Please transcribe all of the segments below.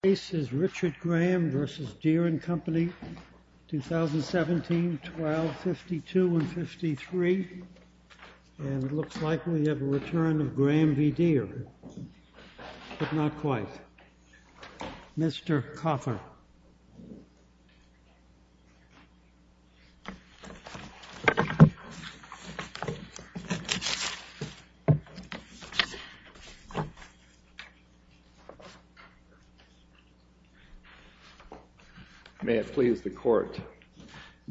The case is Richard Graham v. Deere & Company, 2017, 1252 and 53. And it looks like we have a return of Graham v. Deere, but not quite. Mr. Coffin. May it please the Court.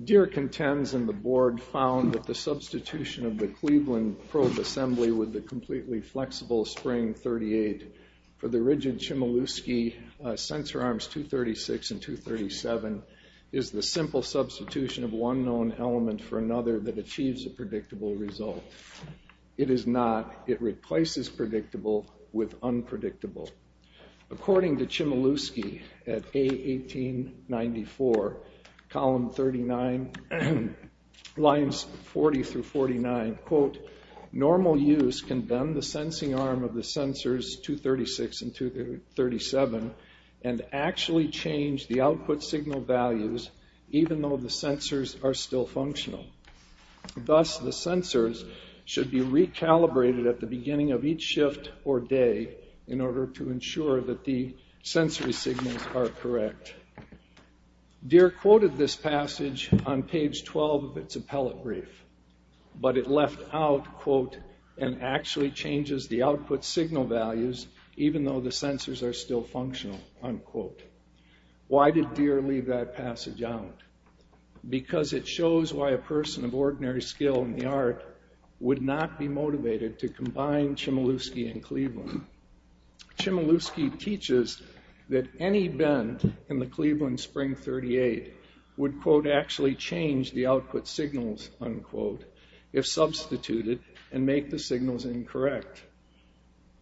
Deere contends, and the Board found, that the substitution of the Cleveland probe assembly with the completely flexible spring 38 for the rigid Chmielewski sensor arms 236 and 237 is the simple substitution of one known element for another that achieves a predictable result. It is not. It replaces predictable with unpredictable. According to Chmielewski at A1894, column 39, lines 40 through 49, quote, normal use can bend the sensing arm of the sensors 236 and 237 and actually change the output signal values even though the sensors are still functional. Thus, the sensors should be recalibrated at the beginning of each shift or day in order to ensure that the sensory signals are correct. Deere quoted this passage on page 12 of its appellate brief, but it left out, quote, and actually changes the output signal values even though the sensors are still functional, unquote. Why did Deere leave that passage out? Because it shows why a person of ordinary skill in the art would not be motivated to combine Chmielewski and Cleveland. Chmielewski teaches that any bend in the Cleveland spring 38 would, quote, actually change the output signals, unquote, if substituted and make the signals incorrect.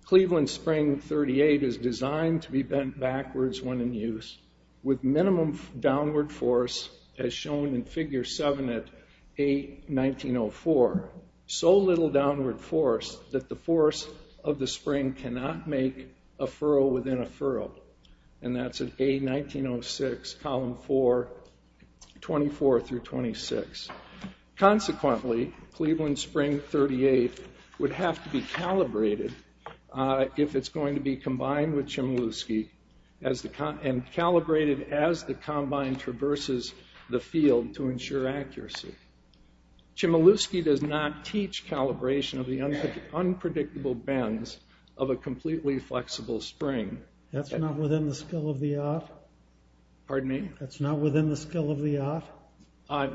Cleveland spring 38 is designed to be bent backwards when in use with minimum downward force as shown in figure 7 at A1904. So little downward force that the force of the spring cannot make a furrow within a furrow, and that's at A1906, column 4, 24 through 26. Consequently, Cleveland spring 38 would have to be calibrated if it's going to be combined with Chmielewski and calibrated as the combine traverses the field to ensure accuracy. Chmielewski does not teach calibration of the unpredictable bends of a completely flexible spring. That's not within the skill of the art? Pardon me? That's not within the skill of the art?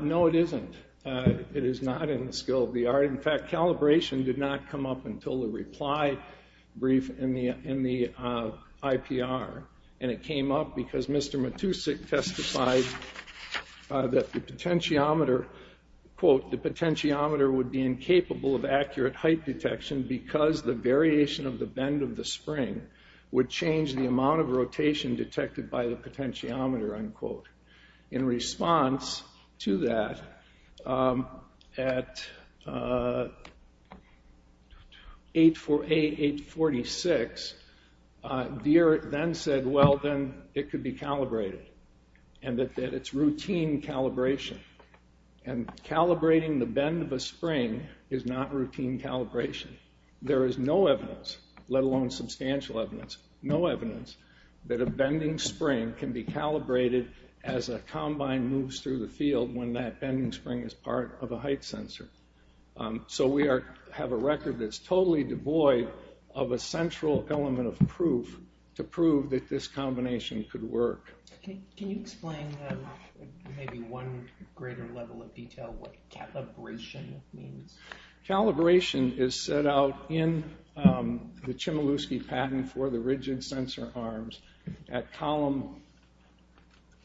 No, it isn't. It is not in the skill of the art. In fact, calibration did not come up until the reply brief in the IPR, and it came up because Mr. Matusik testified that the potentiometer, quote, the potentiometer would be incapable of accurate height detection because the variation of the bend of the spring would change the amount of rotation detected by the potentiometer, unquote. In response to that, at A846, Deere then said, well, then it could be calibrated, and that it's routine calibration, and calibrating the bend of a spring is not routine calibration. There is no evidence, let alone substantial evidence, no evidence that a bending spring can be calibrated as a combine moves through the field when that bending spring is part of a height sensor. So we have a record that's totally devoid of a central element of proof to prove that this combination could work. Can you explain maybe one greater level of detail, what calibration means? Calibration is set out in the Chmielewski patent for the rigid sensor arms at column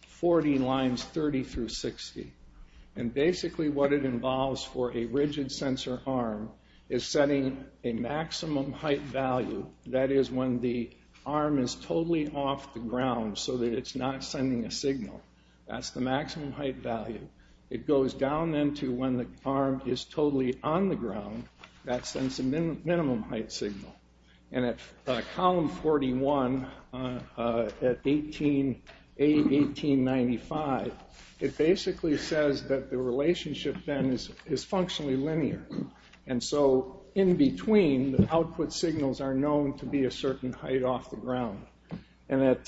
40, lines 30 through 60. Basically what it involves for a rigid sensor arm is setting a maximum height value, that is when the arm is totally off the ground so that it's not sending a signal. That's the maximum height value. It goes down then to when the arm is totally on the ground, that sends a minimum height signal. At column 41, at A1895, it basically says that the relationship then is functionally linear. In between, the output signals are known to be a certain height off the ground. At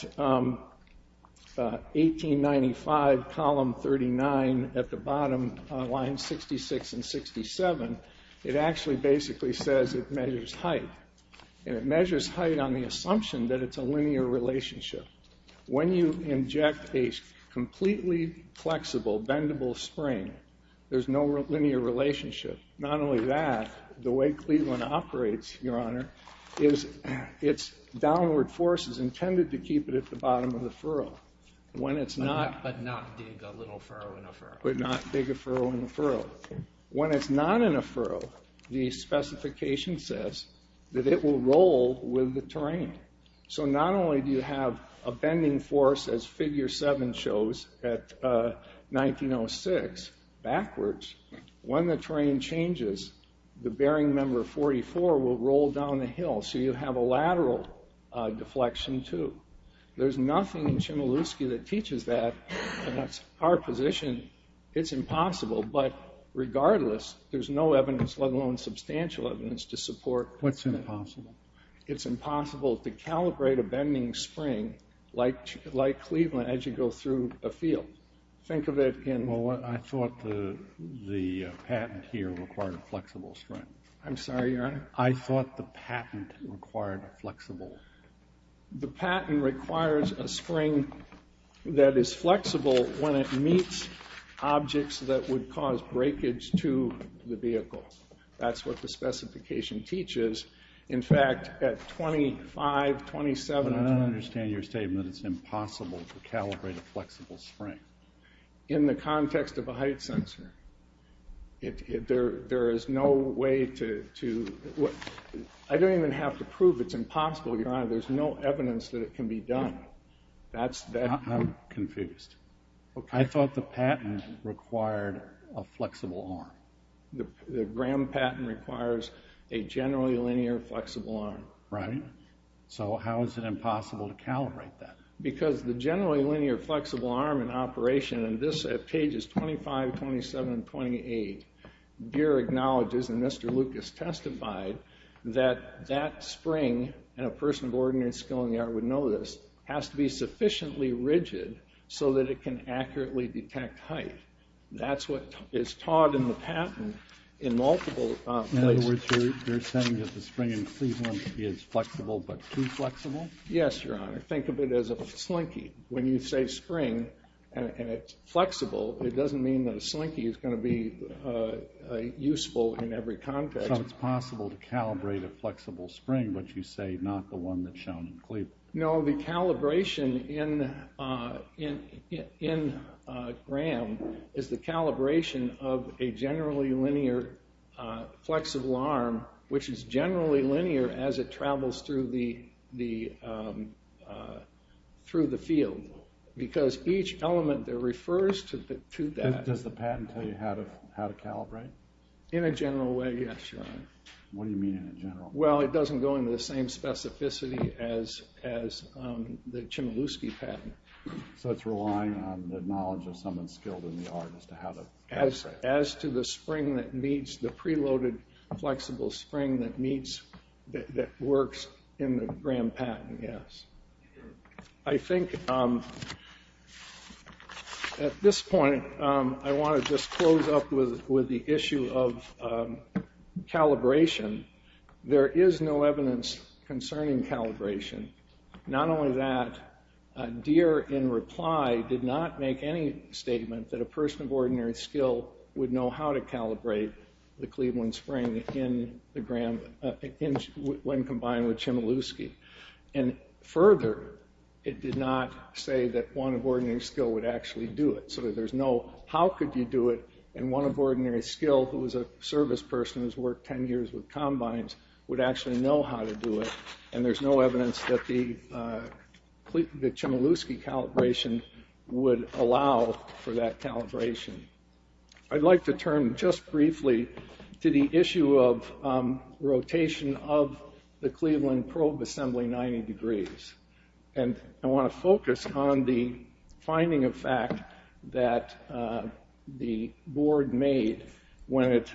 A1895, column 39, at the bottom, lines 66 and 67, it actually basically says it measures height. It measures height on the assumption that it's a linear relationship. When you inject a completely flexible, bendable spring, there's no linear relationship. Not only that, the way Cleveland operates, Your Honor, is its downward force is intended to keep it at the bottom of the furrow. But not dig a little furrow in a furrow. But not dig a furrow in a furrow. When it's not in a furrow, the specification says that it will roll with the terrain. So not only do you have a bending force, as Figure 7 shows, at 1906, backwards, when the terrain changes, the bearing member 44 will roll down the hill, so you have a lateral deflection too. There's nothing in Chmielewski that teaches that. That's our position. It's impossible, but regardless, there's no evidence, let alone substantial evidence, to support that. What's impossible? It's impossible to calibrate a bending spring like Cleveland as you go through a field. Think of it in... Well, I thought the patent here required a flexible spring. I'm sorry, Your Honor? I thought the patent required a flexible... The patent requires a spring that is flexible when it meets objects that would cause breakage to the vehicle. That's what the specification teaches. In fact, at 25, 27... I don't understand your statement that it's impossible to calibrate a flexible spring. In the context of a height sensor, there is no way to... I don't even have to prove it's impossible, Your Honor. There's no evidence that it can be done. I'm confused. I thought the patent required a flexible arm. The Graham patent requires a generally linear flexible arm. Right. So how is it impossible to calibrate that? Because the generally linear flexible arm in operation, and this at pages 25, 27, and 28, Deere acknowledges, and Mr. Lucas testified, that that spring, and a person of ordinary skill in the art would know this, has to be sufficiently rigid so that it can accurately detect height. That's what is taught in the patent in multiple places. In other words, you're saying that the spring in Cleveland is flexible but too flexible? Yes, Your Honor. Think of it as a slinky. When you say spring and it's flexible, it doesn't mean that a slinky is going to be useful in every context. So it's possible to calibrate a flexible spring, but you say not the one that's shown in Cleveland. No, the calibration in Graham is the calibration of a generally linear flexible arm, which is generally linear as it travels through the field. Because each element there refers to that. Does the patent tell you how to calibrate? In a general way, yes, Your Honor. What do you mean in a general way? Well, it doesn't go into the same specificity as the Chmielewski patent. So it's relying on the knowledge of someone skilled in the art as to how to calibrate. As to the spring that meets, the preloaded flexible spring that meets, that works in the Graham patent, yes. I think at this point I want to just close up with the issue of calibration. There is no evidence concerning calibration. Not only that, Deere in reply did not make any statement that a person of ordinary skill would know how to calibrate the Cleveland spring when combined with Chmielewski. And further, it did not say that one of ordinary skill would actually do it. So there's no how could you do it, and one of ordinary skill, who was a service person who's worked 10 years with combines, would actually know how to do it. And there's no evidence that the Chmielewski calibration would allow for that calibration. I'd like to turn just briefly to the issue of rotation of the Cleveland probe assembly 90 degrees. And I want to focus on the finding of fact that the board made when it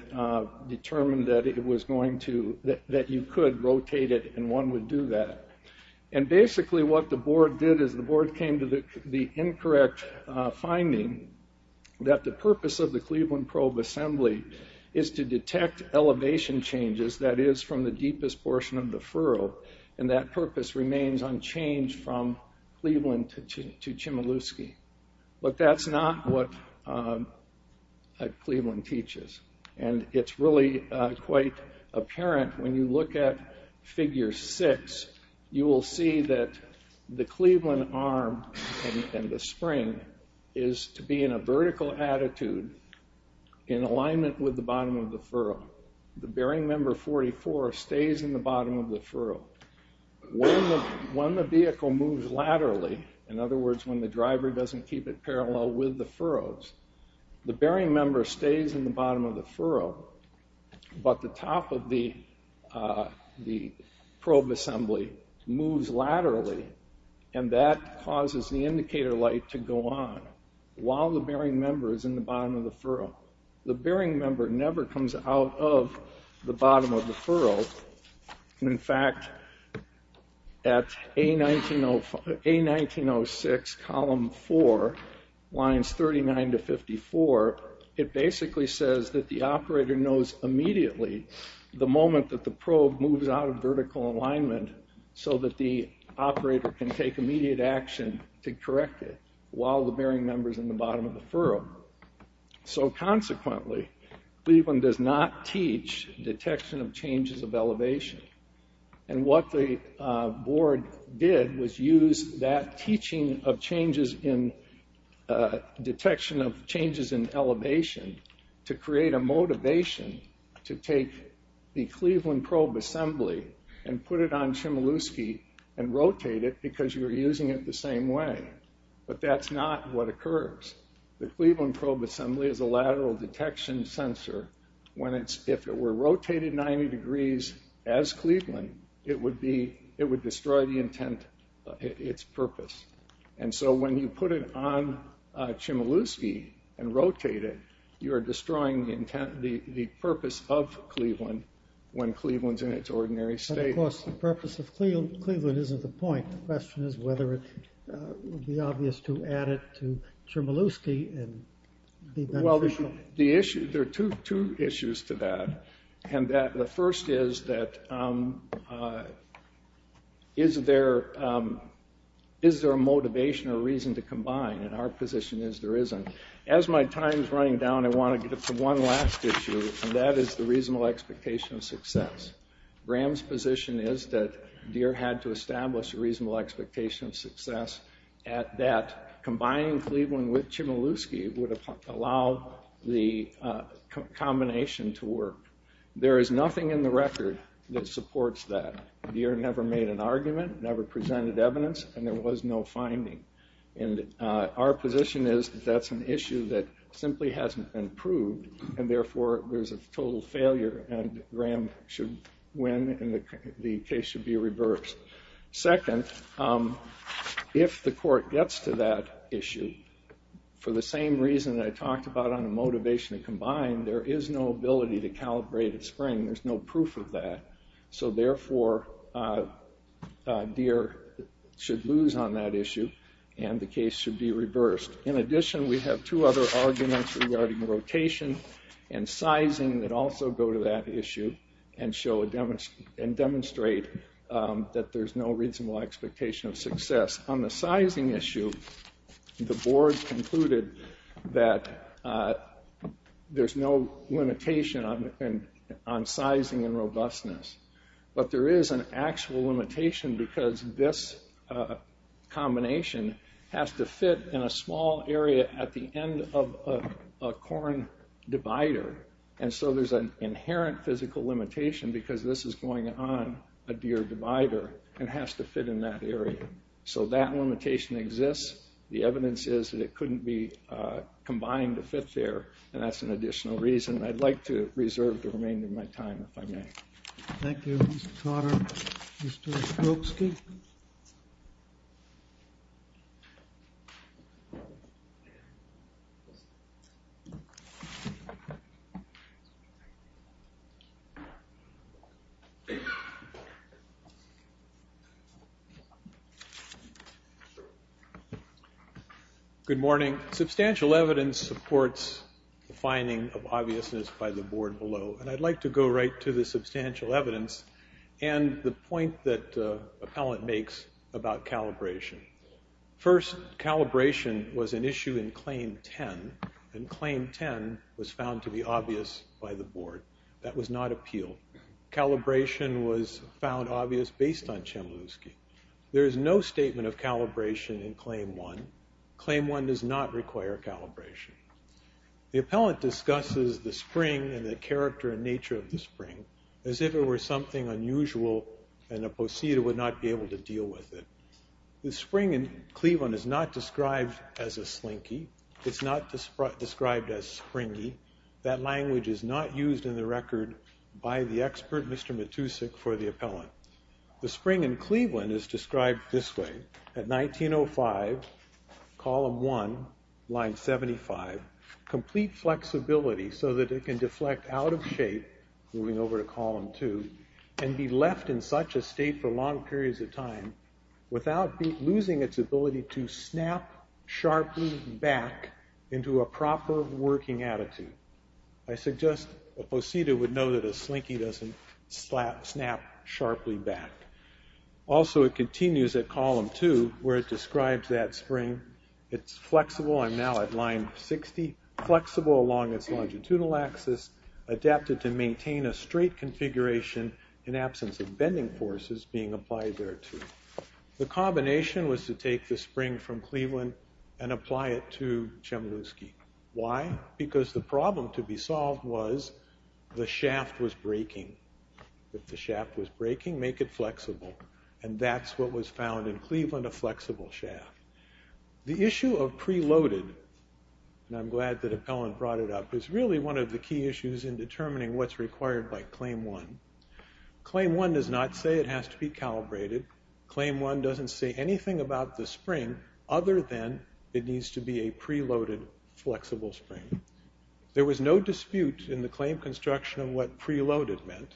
determined that it was going to, that you could rotate it and one would do that. And basically what the board did is the board came to the incorrect finding that the purpose of the Cleveland probe assembly is to detect elevation changes, that is from the deepest portion of the furrow. And that purpose remains unchanged from Cleveland to Chmielewski. But that's not what Cleveland teaches. And it's really quite apparent when you look at figure six, you will see that the Cleveland arm and the spring is to be in a vertical attitude in alignment with the bottom of the furrow. The bearing member 44 stays in the bottom of the furrow. When the vehicle moves laterally, in other words when the driver doesn't keep it parallel with the furrows, the bearing member stays in the bottom of the furrow, but the top of the probe assembly moves laterally and that causes the indicator light to go on while the bearing member is in the bottom of the furrow. The bearing member never comes out of the bottom of the furrow. In fact, at A1906 column four, lines 39 to 54, it basically says that the operator knows immediately the moment that the probe moves out of vertical alignment so that the operator can take immediate action to correct it while the bearing member is in the bottom of the furrow. So consequently, Cleveland does not teach detection of changes of elevation. And what the board did was use that teaching of changes in detection of changes in elevation to create a motivation to take the Cleveland probe assembly and put it on Chmielewski and rotate it because you were using it the same way. But that's not what occurs. The Cleveland probe assembly is a lateral detection sensor. If it were rotated 90 degrees as Cleveland, it would destroy the intent, its purpose. And so when you put it on Chmielewski and rotate it, you're destroying the purpose of Cleveland when Cleveland's in its ordinary state. Of course, the purpose of Cleveland isn't the point. The question is whether it would be obvious to add it to Chmielewski and be beneficial. Well, there are two issues to that. And the first is that is there a motivation or reason to combine? And our position is there isn't. As my time is running down, I want to get to one last issue, and that is the reasonable expectation of success. Graham's position is that Deere had to establish a reasonable expectation of success at that combining Cleveland with Chmielewski would allow the combination to work. There is nothing in the record that supports that. Deere never made an argument, never presented evidence, and there was no finding. And our position is that that's an issue that simply hasn't been proved, and therefore there's a total failure, and Graham should win, and the case should be reversed. Second, if the court gets to that issue, for the same reason that I talked about on the motivation to combine, there is no ability to calibrate at spring. There's no proof of that. So therefore, Deere should lose on that issue, and the case should be reversed. In addition, we have two other arguments regarding rotation and sizing that also go to that issue and demonstrate that there's no reasonable expectation of success. On the sizing issue, the board concluded that there's no limitation on sizing and robustness, but there is an actual limitation because this combination has to fit in a small area at the end of a corn divider, and so there's an inherent physical limitation because this is going on a Deere divider and has to fit in that area. So that limitation exists. The evidence is that it couldn't be combined to fit there, and that's an additional reason. I'd like to reserve the remainder of my time, if I may. Thank you, Mr. Cotter. Mr. Stokeski? Good morning. Substantial evidence supports the finding of obviousness by the board below, and I'd like to go right to the substantial evidence and the point that Appellant makes about calibration. First, calibration was an issue in Claim 10, and Claim 10 was found to be obvious by the board. That was not appealed. Calibration was found obvious based on Chmielewski. There is no statement of calibration in Claim 1. Claim 1 does not require calibration. The Appellant discusses the spring and the character and nature of the spring as if it were something unusual and a posse would not be able to deal with it. The spring in Cleveland is not described as a slinky. It's not described as springy. That language is not used in the record by the expert, Mr. Matusik, for the Appellant. The spring in Cleveland is described this way. At 1905, Column 1, Line 75, complete flexibility so that it can deflect out of shape, moving over to Column 2, and be left in such a state for long periods of time without losing its ability to snap sharply back into a proper working attitude. I suggest a posse would know that a slinky doesn't snap sharply back. Also, it continues at Column 2 where it describes that spring. It's flexible. I'm now at Line 60. Flexible along its longitudinal axis, adapted to maintain a straight configuration in absence of bending forces being applied thereto. The combination was to take the spring from Cleveland and apply it to Chmielewski. Why? Because the problem to be solved was the shaft was breaking. If the shaft was breaking, make it flexible. And that's what was found in Cleveland, a flexible shaft. The issue of preloaded, and I'm glad that Appellant brought it up, is really one of the key issues in determining what's required by Claim 1. Claim 1 does not say it has to be calibrated. Claim 1 doesn't say anything about the spring other than it needs to be a preloaded flexible spring. There was no dispute in the claim construction of what preloaded meant,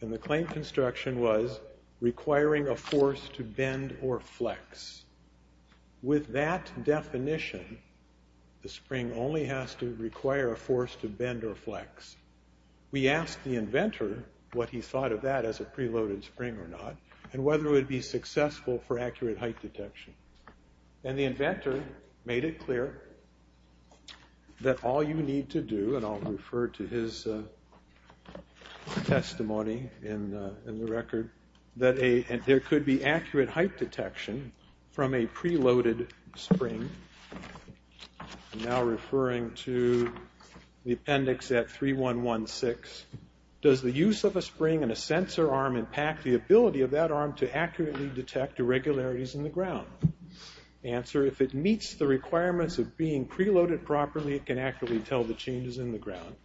and the claim construction was requiring a force to bend or flex. With that definition, the spring only has to require a force to bend or flex. We asked the inventor what he thought of that as a preloaded spring or not, and whether it would be successful for accurate height detection. And the inventor made it clear that all you need to do, and I'll refer to his testimony in the record, that there could be accurate height detection from a preloaded spring. I'm now referring to the appendix at 3116. Does the use of a spring and a sensor arm impact the ability of that arm to accurately detect irregularities in the ground? Answer, if it meets the requirements of being preloaded properly, it can accurately tell the changes in the ground.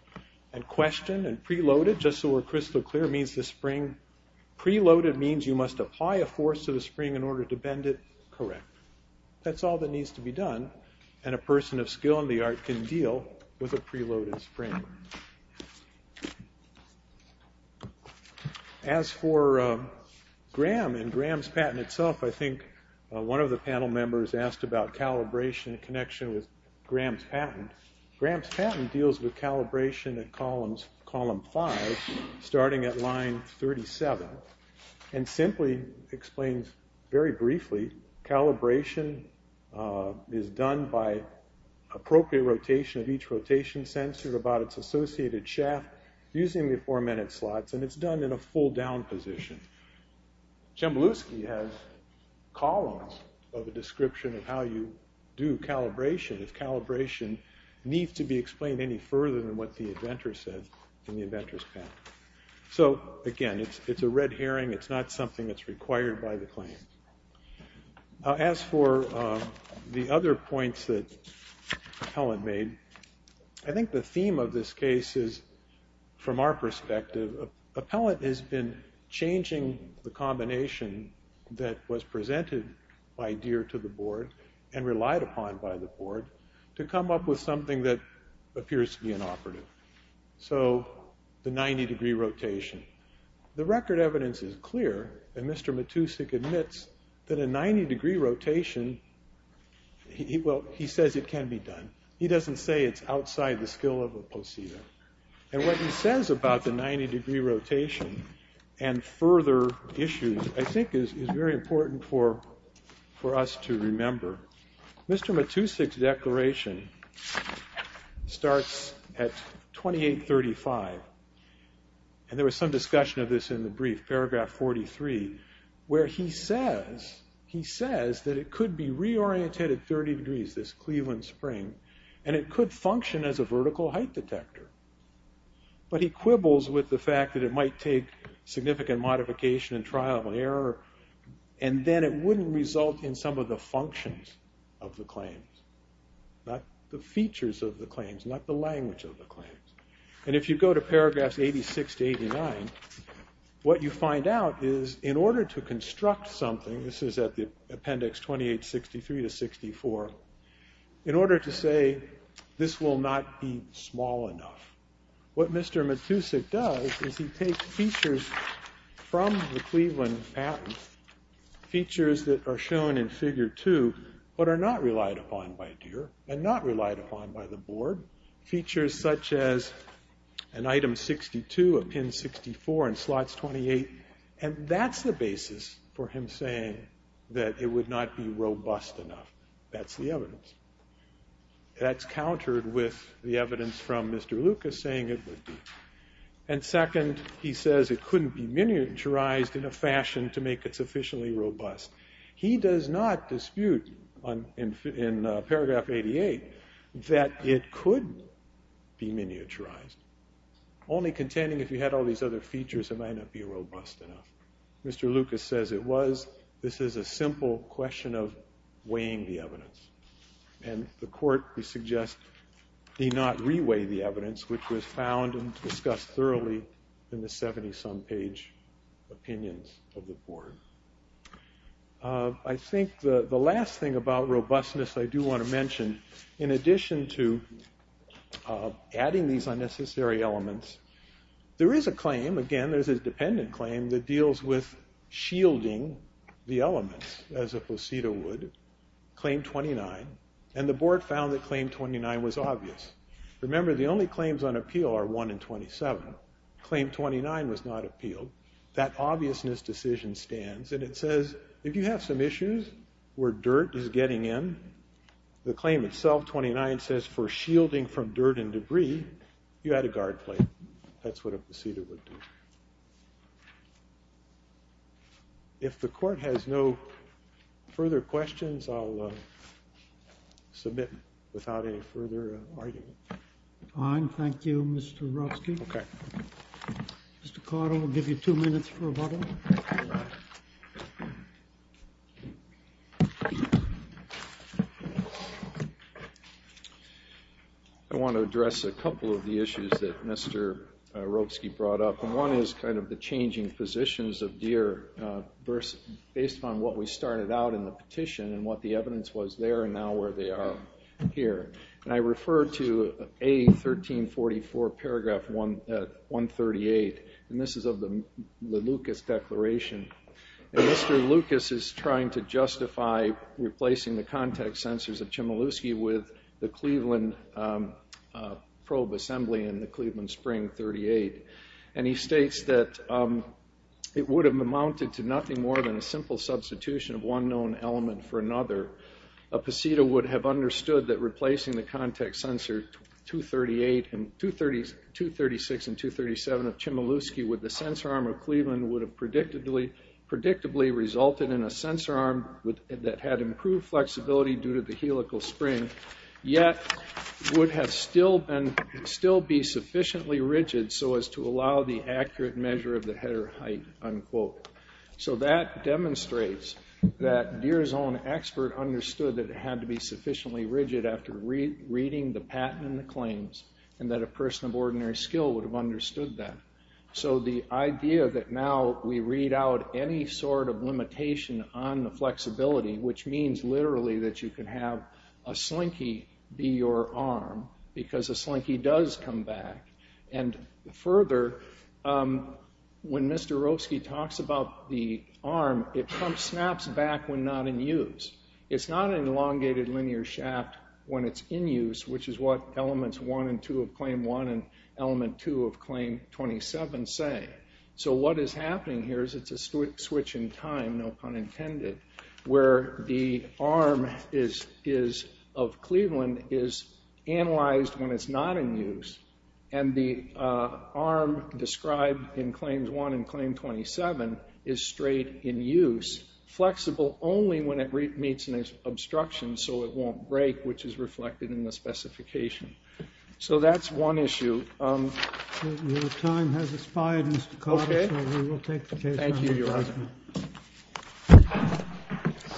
And question, preloaded, just so we're crystal clear, means the spring, preloaded means you must apply a force to the spring in order to bend it correct. That's all that needs to be done, and a person of skill in the art can deal with a preloaded spring. As for GRAM and GRAM's patent itself, I think one of the panel members asked about calibration in connection with GRAM's patent. GRAM's patent deals with calibration at column 5, starting at line 37, and simply explains, very briefly, calibration is done by appropriate rotation of each rotation sensor about its associated shaft using the four minute slots, and it's done in a full down position. Chamblowski has columns of a description of how you do calibration if calibration needs to be explained any further than what the inventor said in the inventor's patent. So, again, it's a red herring. It's not something that's required by the claim. As for the other points that Helen made, I think the theme of this case is, from our perspective, appellant has been changing the combination that was presented by Deere to the board and relied upon by the board to come up with something that appears to be inoperative. So, the 90 degree rotation. The record evidence is clear, and Mr. Matusik admits that a 90 degree rotation, well, he says it can be done. He doesn't say it's outside the skill of a poseidon. And what he says about the 90 degree rotation and further issues, I think, is very important for us to remember. Mr. Matusik's declaration starts at 2835, and there was some discussion of this in the brief, paragraph 43, where he says that it could be reoriented at 30 degrees, this Cleveland spring, and it could function as a vertical height detector. But he quibbles with the fact that it might take significant modification and trial and error, and then it wouldn't result in some of the functions of the claims, not the features of the claims, not the language of the claims. And if you go to paragraphs 86 to 89, what you find out is, in order to construct something, this is at the appendix 2863 to 64, in order to say this will not be small enough, what Mr. Matusik does is he takes features from the Cleveland patent, features that are shown in figure two, but are not relied upon by DEER and not relied upon by the board, features such as an item 62, a pin 64, and slots 28, and that's the basis for him saying that it would not be robust enough. That's the evidence. That's countered with the evidence from Mr. Lucas saying it would be. And second, he says it couldn't be miniaturized in a fashion to make it sufficiently robust. He does not dispute, in paragraph 88, that it could be miniaturized, only contending if you had all these other features, it might not be robust enough. Mr. Lucas says it was. This is a simple question of weighing the evidence. And the court, we suggest, did not re-weigh the evidence, which was found and discussed thoroughly in the 70-some page opinions of the board. I think the last thing about robustness I do want to mention, in addition to adding these unnecessary elements, there is a claim, again, there's a dependent claim, that deals with shielding the elements, as a placido would, Claim 29, and the board found that Claim 29 was obvious. Remember, the only claims on appeal are 1 and 27. Claim 29 was not appealed. That obviousness decision stands, and it says, if you have some issues where dirt is getting in, the claim itself, 29, says for shielding from dirt and debris, you add a guard plate. That's what a placido would do. If the court has no further questions, I'll submit without any further argument. Fine, thank you, Mr. Ruski. Okay. Mr. Carter, we'll give you two minutes for rebuttal. I want to address a couple of the issues that Mr. Ruski brought up, and one is kind of the changing positions of Deere, based upon what we started out in the petition and what the evidence was there and now where they are here. And I refer to A1344 paragraph 138, and this is of the Lucas Declaration. And Mr. Lucas is trying to justify replacing the contact sensors of Chmielewski with the Cleveland probe assembly in the Cleveland Spring 38. And he states that it would have amounted to nothing more than a simple substitution of one known element for another. A placido would have understood that replacing the contact sensor 236 and 237 of Chmielewski with the sensor arm of Cleveland would have predictably resulted in a sensor arm that had improved flexibility due to the helical spring, yet would have still been sufficiently rigid so as to allow the accurate measure of the header height, unquote. So that demonstrates that Deere's own expert understood that it had to be sufficiently rigid after reading the patent and the claims, and that a person of ordinary skill would have understood that. So the idea that now we read out any sort of limitation on the flexibility, which means literally that you can have a slinky be your arm, because a slinky does come back. And further, when Mr. Roeske talks about the arm, it snaps back when not in use. It's not an elongated linear shaft when it's in use, which is what elements one and two of claim one and element two of claim 27 say. So what is happening here is it's a switch in time, no pun intended, where the arm of Cleveland is analyzed when it's not in use. And the arm described in claims one and claim 27 is straight in use, flexible only when it meets an obstruction so it won't break, which is reflected in the specification. So that's one issue. Your time has expired, Mr. Carter, so we will take the case. Thank you, Your Honor.